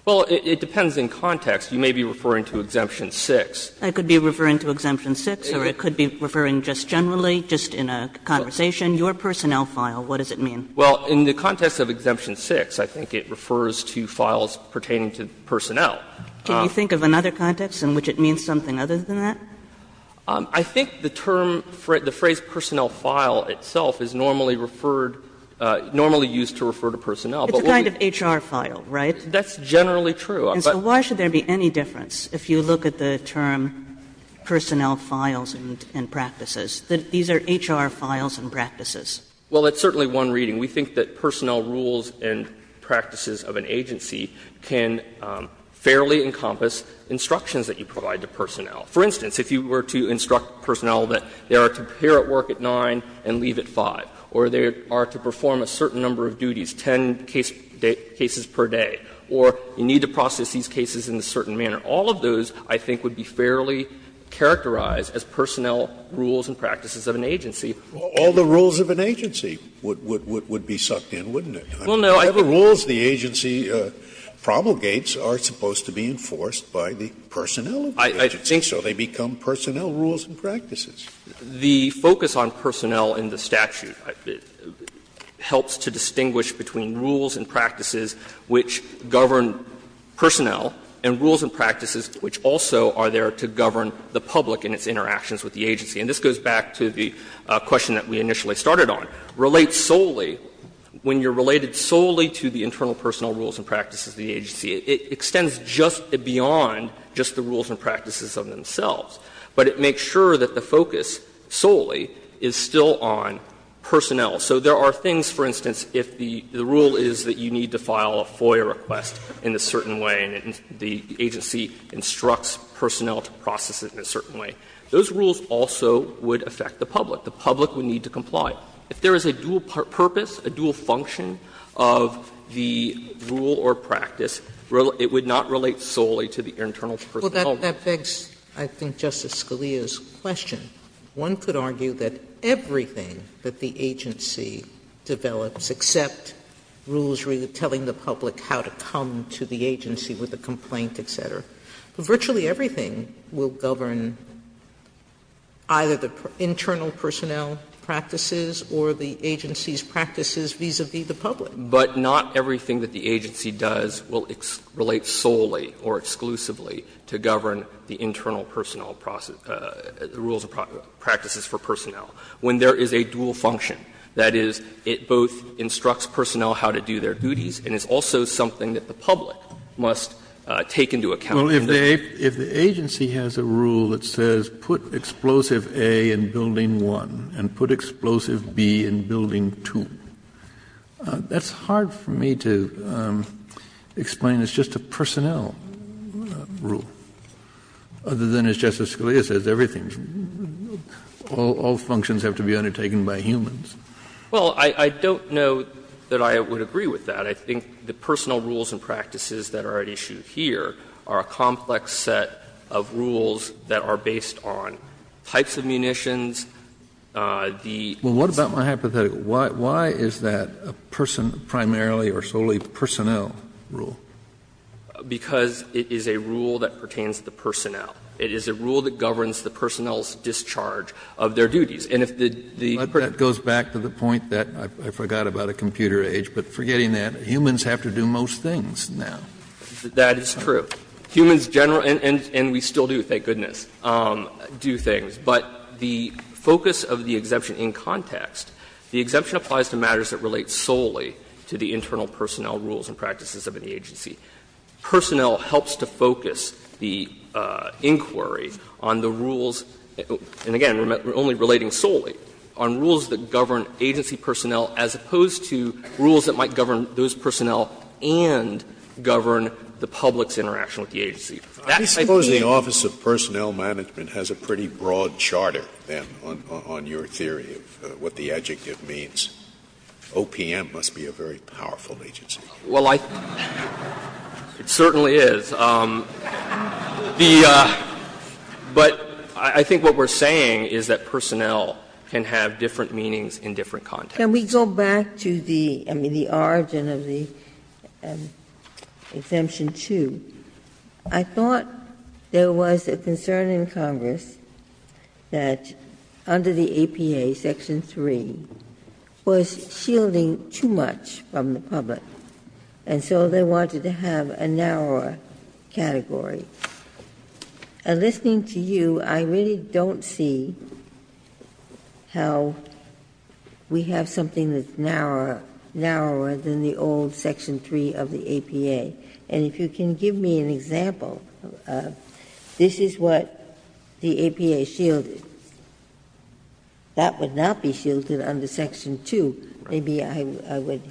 Well, it depends in context. You may be referring to Exemption 6. I could be referring to Exemption 6, or it could be referring just generally, just in a conversation. Your personnel file, what does it mean? Well, in the context of Exemption 6, I think it refers to files pertaining to personnel. Can you think of another context in which it means something other than that? I think the term, the phrase personnel file itself is normally referred, normally used to refer to personnel. It's a kind of HR file, right? That's generally true. And so why should there be any difference if you look at the term personnel files and practices? These are HR files and practices. Well, it's certainly one reading. We think that personnel rules and practices of an agency can fairly encompass instructions that you provide to personnel. For instance, if you were to instruct personnel that they are to prepare at work at 9 and leave at 5, or they are to perform a certain number of duties, 10 cases per day, or you need to process these cases in a certain manner, all of those I think would be fairly characterized as personnel rules and practices of an agency. Scalia All the rules of an agency would be sucked in, wouldn't it? I mean, whatever rules the agency promulgates are supposed to be enforced by the personnel of the agency. So they become personnel rules and practices. The focus on personnel in the statute helps to distinguish between rules and practices which govern personnel and rules and practices which also are there to govern the public in its interactions with the agency. And this goes back to the question that we initially started on. Relate solely, when you are related solely to the internal personnel rules and practices of the agency, it extends just beyond just the rules and practices of themselves. But it makes sure that the focus solely is still on personnel. So there are things, for instance, if the rule is that you need to file a FOIA request in a certain way and the agency instructs personnel to process it in a certain way, those rules also would affect the public. The public would need to comply. If there is a dual purpose, a dual function of the rule or practice, it would not relate solely to the internal personnel. Sotomayor Well, that begs, I think, Justice Scalia's question. One could argue that everything that the agency develops, except rules telling the public how to come to the agency with a complaint, et cetera, virtually everything will govern either the internal personnel practices or the agency's practices vis-a-vis the public. But not everything that the agency does will relate solely or exclusively to govern the internal personnel rules and practices for personnel. When there is a dual function, that is, it both instructs personnel how to do their duties and is also something that the public must take into account. Kennedy Well, if the agency has a rule that says put Explosive A in Building 1 and put Explosive B in Building 2, that's hard for me to explain. It's just a personnel rule, other than, as Justice Scalia says, everything else, all functions have to be undertaken by humans. Sotomayor Well, I don't know that I would agree with that. I think the personnel rules and practices that are at issue here are a complex set of rules that are based on types of munitions, the assaults. Kennedy Well, what about my hypothetical? Why is that a person, primarily or solely, personnel rule? Because it is a rule that pertains to the personnel. It is a rule that governs the personnel's discharge of their duties. And if the person Kennedy That goes back to the point that I forgot about a computer age, but forgetting that, humans have to do most things now. Sotomayor That is true. Humans generally, and we still do, thank goodness, do things. But the focus of the exemption in context, the exemption applies to matters that the agency. Personnel helps to focus the inquiry on the rules, and again, only relating solely, on rules that govern agency personnel as opposed to rules that might govern those personnel and govern the public's interaction with the agency. That, I think Scalia I suppose the Office of Personnel Management has a pretty broad charter, then, on your theory of what the adjective means. OPM must be a very powerful agency. Well, I think it certainly is. But I think what we're saying is that personnel can have different meanings in different contexts. Ginsburg Can we go back to the origin of the Exemption 2? I thought there was a concern in Congress that under the APA, Section 3, was shielding too much from the public, and so they wanted to have a narrower category. And listening to you, I really don't see how we have something that's narrower than the old Section 3 of the APA. And if you can give me an example, this is what the APA shielded. That would not be shielded under Section 2. Maybe I would.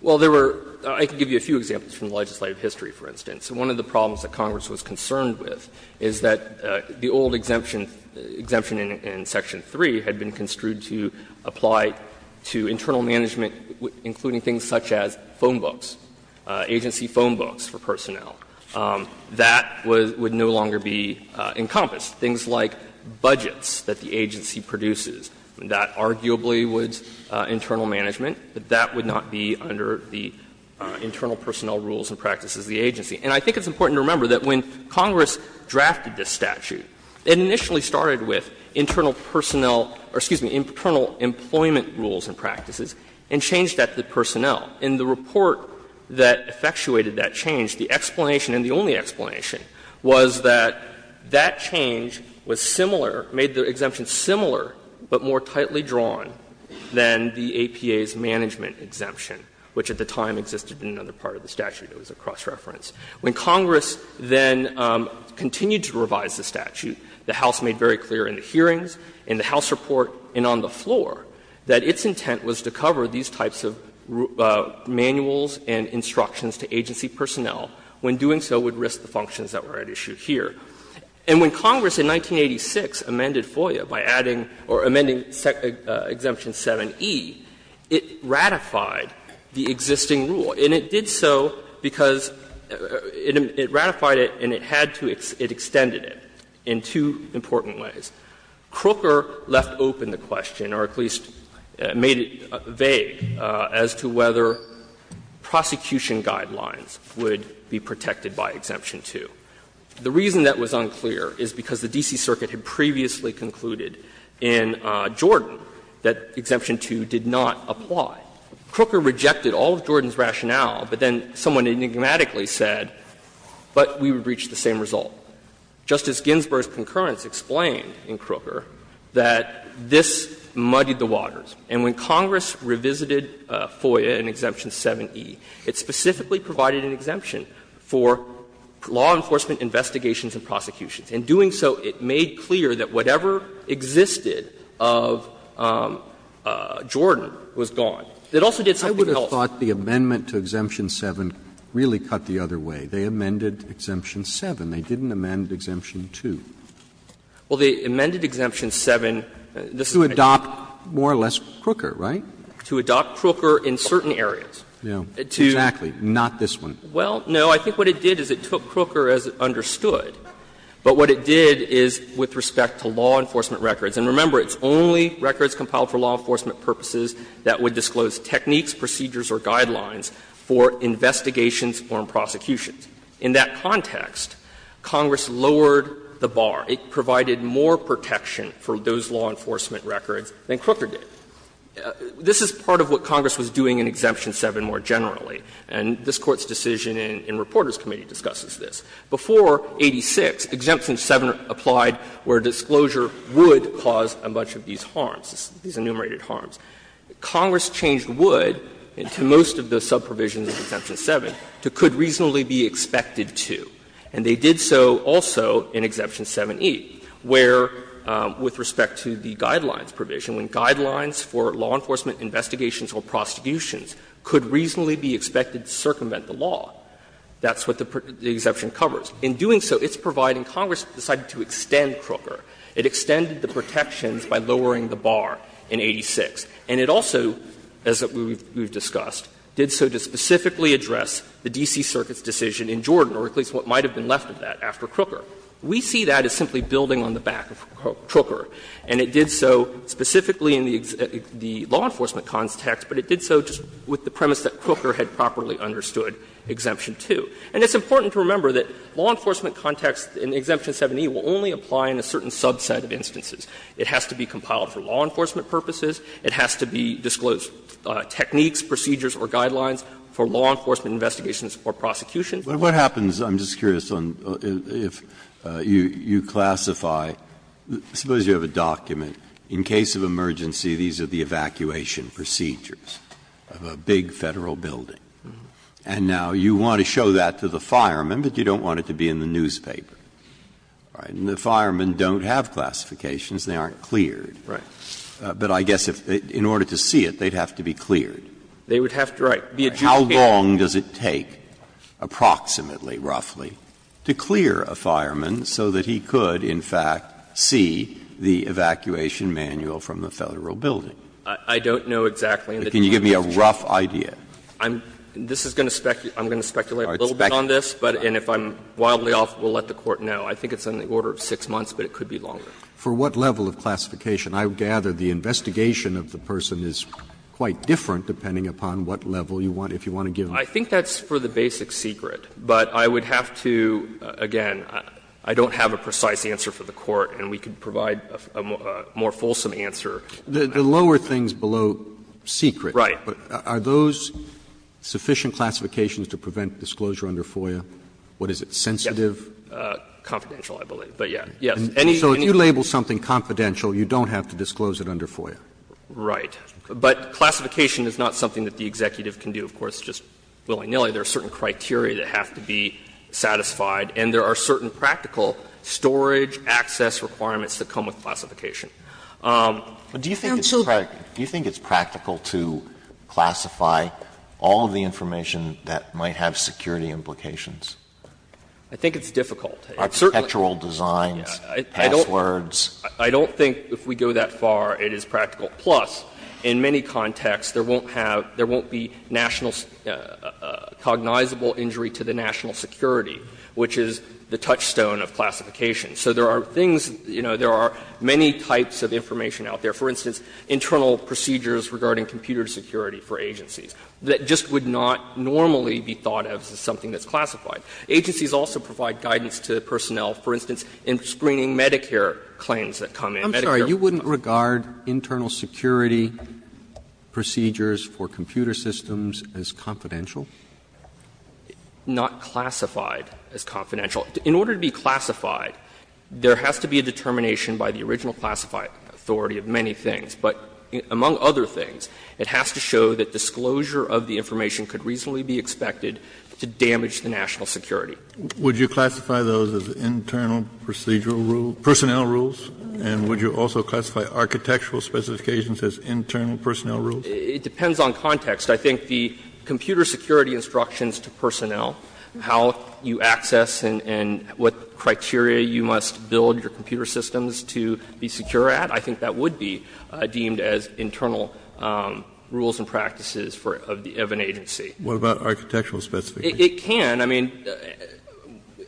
Well, there were – I can give you a few examples from legislative history, for instance. One of the problems that Congress was concerned with is that the old exemption in Section 3 had been construed to apply to internal management, including things such as phone books, agency phone books for personnel. That would no longer be encompassed. Things like budgets that the agency produces, that arguably was internal management, that that would not be under the internal personnel rules and practices of the agency. And I think it's important to remember that when Congress drafted this statute, it initially started with internal personnel – or, excuse me, internal employment rules and practices, and changed that to personnel. In the report that effectuated that change, the explanation, and the only explanation, was that that change was similar, made the exemption similar, but more tightly drawn than the APA's management exemption, which at the time existed in another part of the statute. It was a cross-reference. When Congress then continued to revise the statute, the House made very clear in the hearings, in the House report, and on the floor, that its intent was to cover these types of manuals and instructions to agency personnel, when doing so would risk the functions that were at issue here. And when Congress in 1986 amended FOIA by adding or amending Exemption 7e, it ratified the existing rule. And it did so because it ratified it and it had to – it extended it in two important ways. Crooker left open the question, or at least made it vague, as to whether prosecution guidelines would be protected by Exemption 2. The reason that was unclear is because the D.C. Circuit had previously concluded in Jordan that Exemption 2 did not apply. Crooker rejected all of Jordan's rationale, but then someone enigmatically said, but we would reach the same result. Justice Ginsburg's concurrence explained in Crooker that this muddied the waters. And when Congress revisited FOIA in Exemption 7e, it specifically provided an exemption for law enforcement investigations and prosecutions. In doing so, it made clear that whatever existed of Jordan was gone. It also did something else. Roberts, I would have thought the amendment to Exemption 7 really cut the other way. They amended Exemption 7. They didn't amend Exemption 2. Well, they amended Exemption 7. This is my point. Roberts, to adopt more or less Crooker, right? To adopt Crooker in certain areas. Exactly. Not this one. Well, no. I think what it did is it took Crooker as understood, but what it did is with respect to law enforcement records. And remember, it's only records compiled for law enforcement purposes that would disclose techniques, procedures, or guidelines for investigations or prosecutions. In that context, Congress lowered the bar. It provided more protection for those law enforcement records than Crooker did. This is part of what Congress was doing in Exemption 7 more generally. And this Court's decision in Reporters' Committee discusses this. Before 86, Exemption 7 applied where disclosure would cause a bunch of these harms, these enumerated harms. Congress changed would to most of the subprovision in Exemption 7 to could reasonably be expected to. And they did so also in Exemption 7e, where, with respect to the guidelines provision, when guidelines for law enforcement investigations or prosecutions could reasonably be expected to circumvent the law, that's what the Exemption covers. In doing so, it's providing Congress decided to extend Crooker. It extended the protections by lowering the bar in 86. And it also, as we've discussed, did so to specifically address the D.C. Circuit's decision in Jordan, or at least what might have been left of that after Crooker. We see that as simply building on the back of Crooker. And it did so specifically in the law enforcement context, but it did so just with the premise that Crooker had properly understood Exemption 2. And it's important to remember that law enforcement context in Exemption 7e will only apply in a certain subset of instances. It has to be compiled for law enforcement purposes. It has to be disclosed techniques, procedures, or guidelines for law enforcement investigations or prosecutions. Breyer, what happens, I'm just curious, on if you classify, suppose you have a document. In case of emergency, these are the evacuation procedures of a big Federal building. And now you want to show that to the fireman, but you don't want it to be in the newspaper. All right. And the firemen don't have classifications. They aren't cleared. Right. But I guess if, in order to see it, they'd have to be cleared. They would have to, right. How long does it take, approximately, roughly, to clear a fireman so that he could, in fact, see the evacuation manual from the Federal building? I don't know exactly. Can you give me a rough idea? I'm going to speculate a little bit on this, and if I'm wildly off, we'll let the Court know. I think it's on the order of 6 months, but it could be longer. For what level of classification? I gather the investigation of the person is quite different depending upon what level you want, if you want to give me. I think that's for the basic secret, but I would have to, again, I don't have a precise answer for the Court, and we could provide a more fulsome answer. The lower things below secret. Right. Are those sufficient classifications to prevent disclosure under FOIA? What is it, sensitive? Yes. Confidential, I believe. But, yes. Yes. So if you label something confidential, you don't have to disclose it under FOIA. Right. But classification is not something that the executive can do, of course, just willy nilly. There are certain criteria that have to be satisfied, and there are certain practical storage access requirements that come with classification. Do you think it's practical to classify all of the information that might have security implications? I think it's difficult. It's certainly. Architectural designs, passwords. I don't think if we go that far it is practical. Plus, in many contexts, there won't have, there won't be national, cognizable injury to the national security, which is the touchstone of classification. So there are things, you know, there are many types of information out there. For instance, internal procedures regarding computer security for agencies that just would not normally be thought of as something that's classified. Agencies also provide guidance to personnel, for instance, in screening Medicare claims that come in. I'm sorry, you wouldn't regard internal security procedures for computer systems as confidential? Not classified as confidential. In order to be classified, there has to be a determination by the original classified authority of many things. But among other things, it has to show that disclosure of the information could reasonably be expected to damage the national security. Would you classify those as internal procedural rules, personnel rules? And would you also classify architectural specifications as internal personnel rules? It depends on context. I think the computer security instructions to personnel, how you access and what criteria you must build your computer systems to be secure at, I think that would be deemed as internal rules and practices for, of an agency. What about architectural specifications? It can. I mean,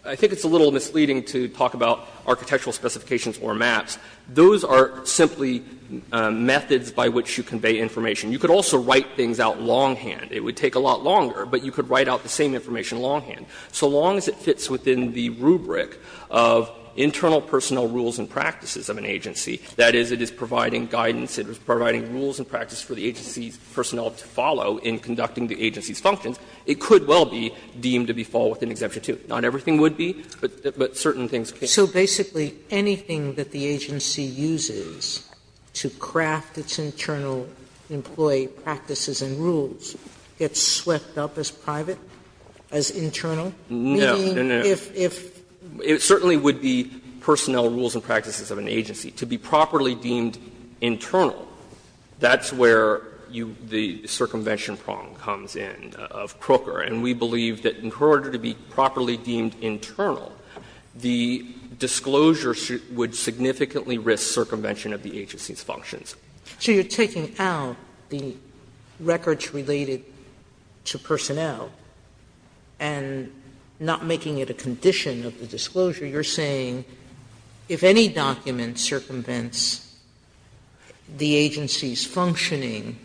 I think it's a little misleading to talk about architectural specifications or maps. Those are simply methods by which you convey information. You could also write things out longhand. It would take a lot longer, but you could write out the same information longhand. So long as it fits within the rubric of internal personnel rules and practices of an agency, that is, it is providing guidance, it is providing rules and practices for the agency's personnel to follow in conducting the agency's functions, it could well be deemed to be fall within Exemption 2. Not everything would be, but certain things could. Sotomayor, so basically anything that the agency uses to craft its internal employee practices and rules gets swept up as private, as internal? Meaning, if, if? No. It certainly would be personnel rules and practices of an agency. To be properly deemed internal, that's where you, the circumvention problem comes in of Croker. And we believe that in order to be properly deemed internal, the disclosure would significantly risk circumvention of the agency's functions. So you're taking out the records related to personnel and not making it a condition of the disclosure. You're saying if any document circumvents the agency's functioning,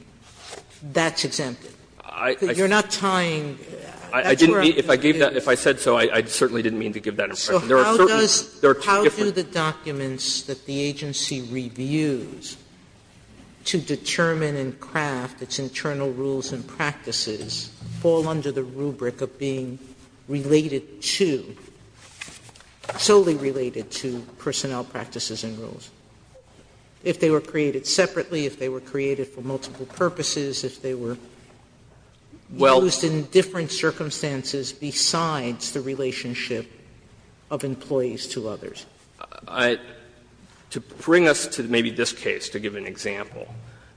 that's exempted. I didn't mean, if I gave that, if I said so, I certainly didn't mean to give that impression. There are certain, there are two different. Sotomayor, so how does, how do the documents that the agency reviews to determine and craft its internal rules and practices fall under the rubric of being related to, solely related to personnel practices and rules? If they were created separately, if they were created for multiple purposes, if they were used in different circumstances besides the relationship of employees to others? To bring us to maybe this case to give an example,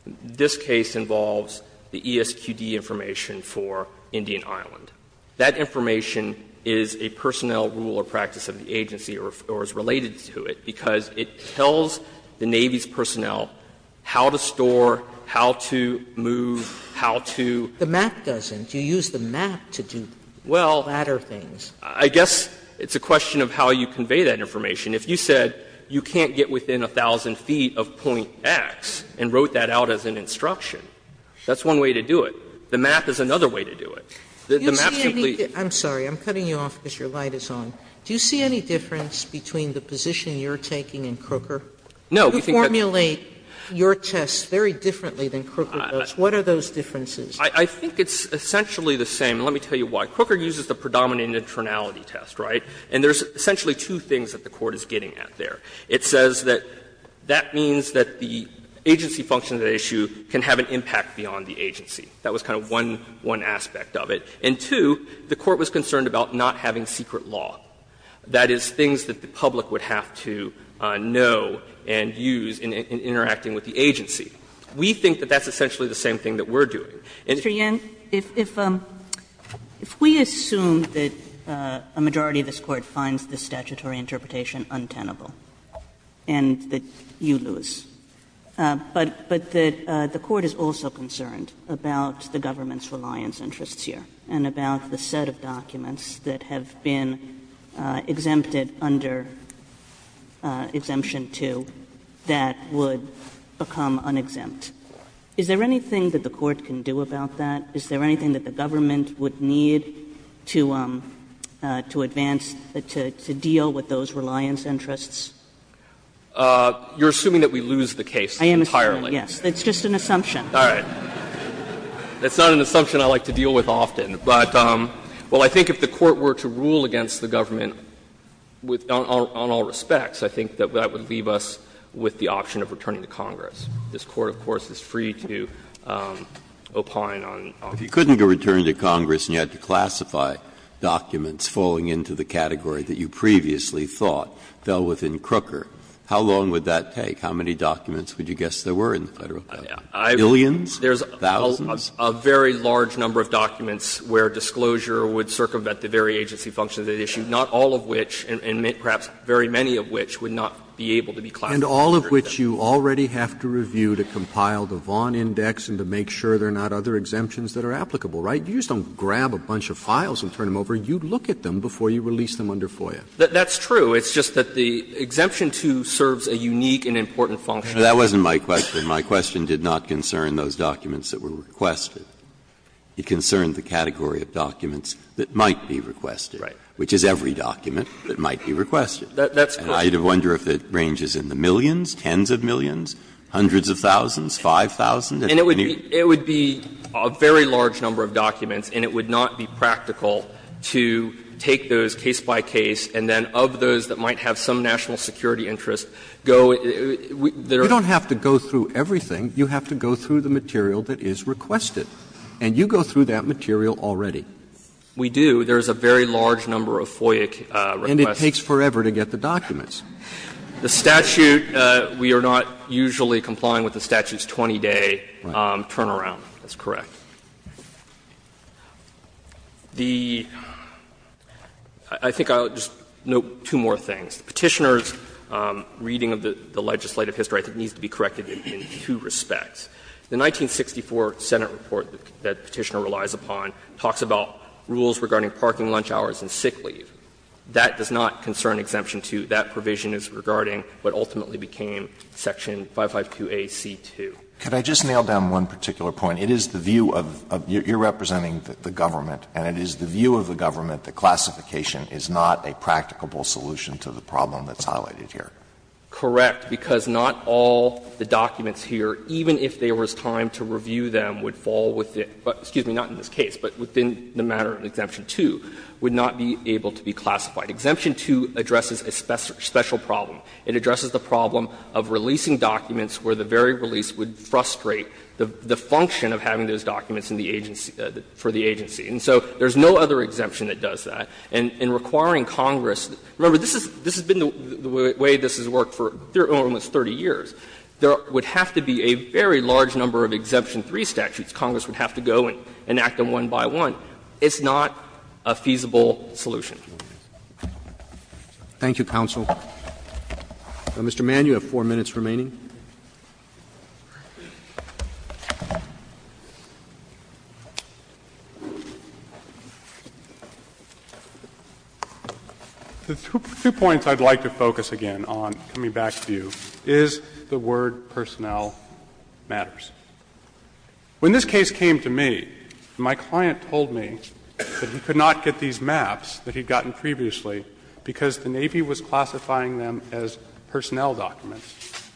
this case involves the ESQD information for Indian Island. That information is a personnel rule or practice of the agency or is related to it because it tells the Navy's personnel how to store, how to move, how to. Sotomayor, the map doesn't. You use the map to do flatter things. Well, I guess it's a question of how you convey that information. If you said you can't get within 1,000 feet of point X and wrote that out as an instruction, that's one way to do it. The map is another way to do it. The map simply. Sotomayor, I'm sorry, I'm cutting you off because your light is on. Do you see any difference between the position you're taking and Crooker? No. You formulate your tests very differently than Crooker does. What are those differences? I think it's essentially the same. Let me tell you why. Crooker uses the predominant internality test, right? And there's essentially two things that the Court is getting at there. It says that that means that the agency function of the issue can have an impact beyond the agency. That was kind of one aspect of it. And two, the Court was concerned about not having secret law. That is, things that the public would have to know and use in interacting with the agency. We think that that's essentially the same thing that we're doing. And if we assume that a majority of this Court finds this statutory interpretation untenable and that you lose, but that the Court is also concerned about the government's reliance interests here and about the set of documents that have been exempted under Exemption 2 that would become unexempt, is there anything that the Court can do about that? Is there anything that the government would need to advance, to deal with those reliance interests? You're assuming that we lose the case entirely. I am assuming, yes. It's just an assumption. All right. That's not an assumption I like to deal with often. But, well, I think if the Court were to rule against the government on all respects, I think that that would leave us with the option of returning to Congress. This Court, of course, is free to opine on all respects. Breyer. If you couldn't go return to Congress and you had to classify documents falling into the category that you previously thought fell within Crooker, how long would that take? How many documents would you guess there were in the Federal government? Billions? Thousands? There's a very large number of documents where disclosure would circumvent the very agency functions at issue, not all of which, and perhaps very many of which, would not be able to be classified. And all of which you already have to review to compile the Vaughan Index and to make sure there are not other exemptions that are applicable, right? You just don't grab a bunch of files and turn them over. You look at them before you release them under FOIA. That's true. It's just that the Exemption 2 serves a unique and important function. That wasn't my question. My question did not concern those documents that were requested. It concerned the category of documents that might be requested, which is every document that might be requested. That's correct. And I would wonder if it ranges in the millions, tens of millions, hundreds of thousands, 5,000. And it would be a very large number of documents, and it would not be practical to take those case by case, and then of those that might have some national security interest, go to the other. You don't have to go through everything. You have to go through the material that is requested. And you go through that material already. We do. There is a very large number of FOIA requests. And it takes forever to get the documents. The statute, we are not usually complying with the statute's 20-day turnaround. That's correct. The — I think I'll just note two more things. Petitioner's reading of the legislative history, I think, needs to be corrected in two respects. The 1964 Senate report that Petitioner relies upon talks about rules regarding parking lunch hours and sick leave. That does not concern Exemption 2. That provision is regarding what ultimately became section 552A.C.2. Alito, could I just nail down one particular point? It is the view of — you are representing the government, and it is the view of the problem that's highlighted here. Correct, because not all the documents here, even if there was time to review them, would fall within — excuse me, not in this case, but within the matter of Exemption 2, would not be able to be classified. Exemption 2 addresses a special problem. It addresses the problem of releasing documents where the very release would frustrate the function of having those documents in the agency — for the agency. And so there is no other exemption that does that. And in requiring Congress — remember, this has been the way this has worked for almost 30 years. There would have to be a very large number of Exemption 3 statutes Congress would have to go and act on one by one. It's not a feasible solution. Roberts. Thank you, counsel. Mr. Mann, you have 4 minutes remaining. The two points I'd like to focus again on, coming back to you, is the word personnel matters. When this case came to me, my client told me that he could not get these maps that he'd gotten previously because the Navy was classifying them as personnel documents.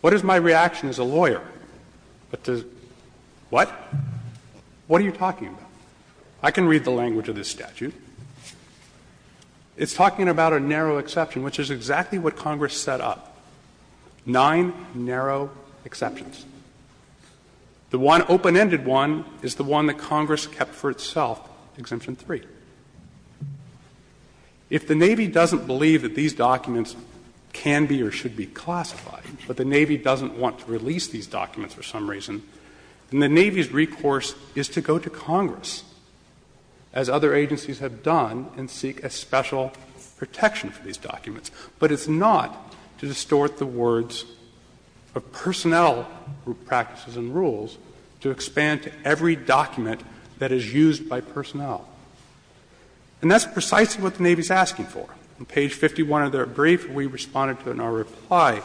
What is my reaction as a lawyer? What does — what? What are you talking about? I can read the language of this statute. It's talking about a narrow exception, which is exactly what Congress set up, nine narrow exceptions. The one open-ended one is the one that Congress kept for itself, Exemption 3. If the Navy doesn't believe that these documents can be or should be classified, but the Navy doesn't want to release these documents for some reason, then the Navy's recourse is to go to Congress, as other agencies have done, and seek a special protection for these documents. But it's not to distort the words of personnel practices and rules to expand to every document that is used by personnel. And that's precisely what the Navy's asking for. On page 51 of their brief, we responded to it in our reply,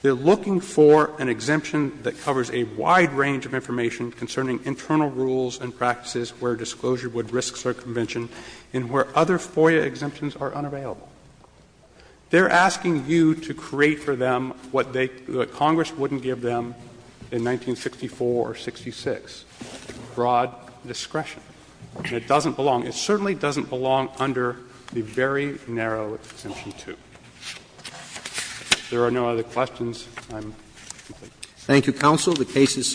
they're looking for an exemption that covers a wide range of information concerning internal rules and practices where disclosure would risk circumvention and where other FOIA exemptions are unavailable. They're asking you to create for them what they — what Congress wouldn't give them in 1964 or 66, broad discretion. And it doesn't belong — it certainly doesn't belong under the very narrow Exemption 2. If there are no other questions, I'm complete. Thank you, counsel. The case is submitted.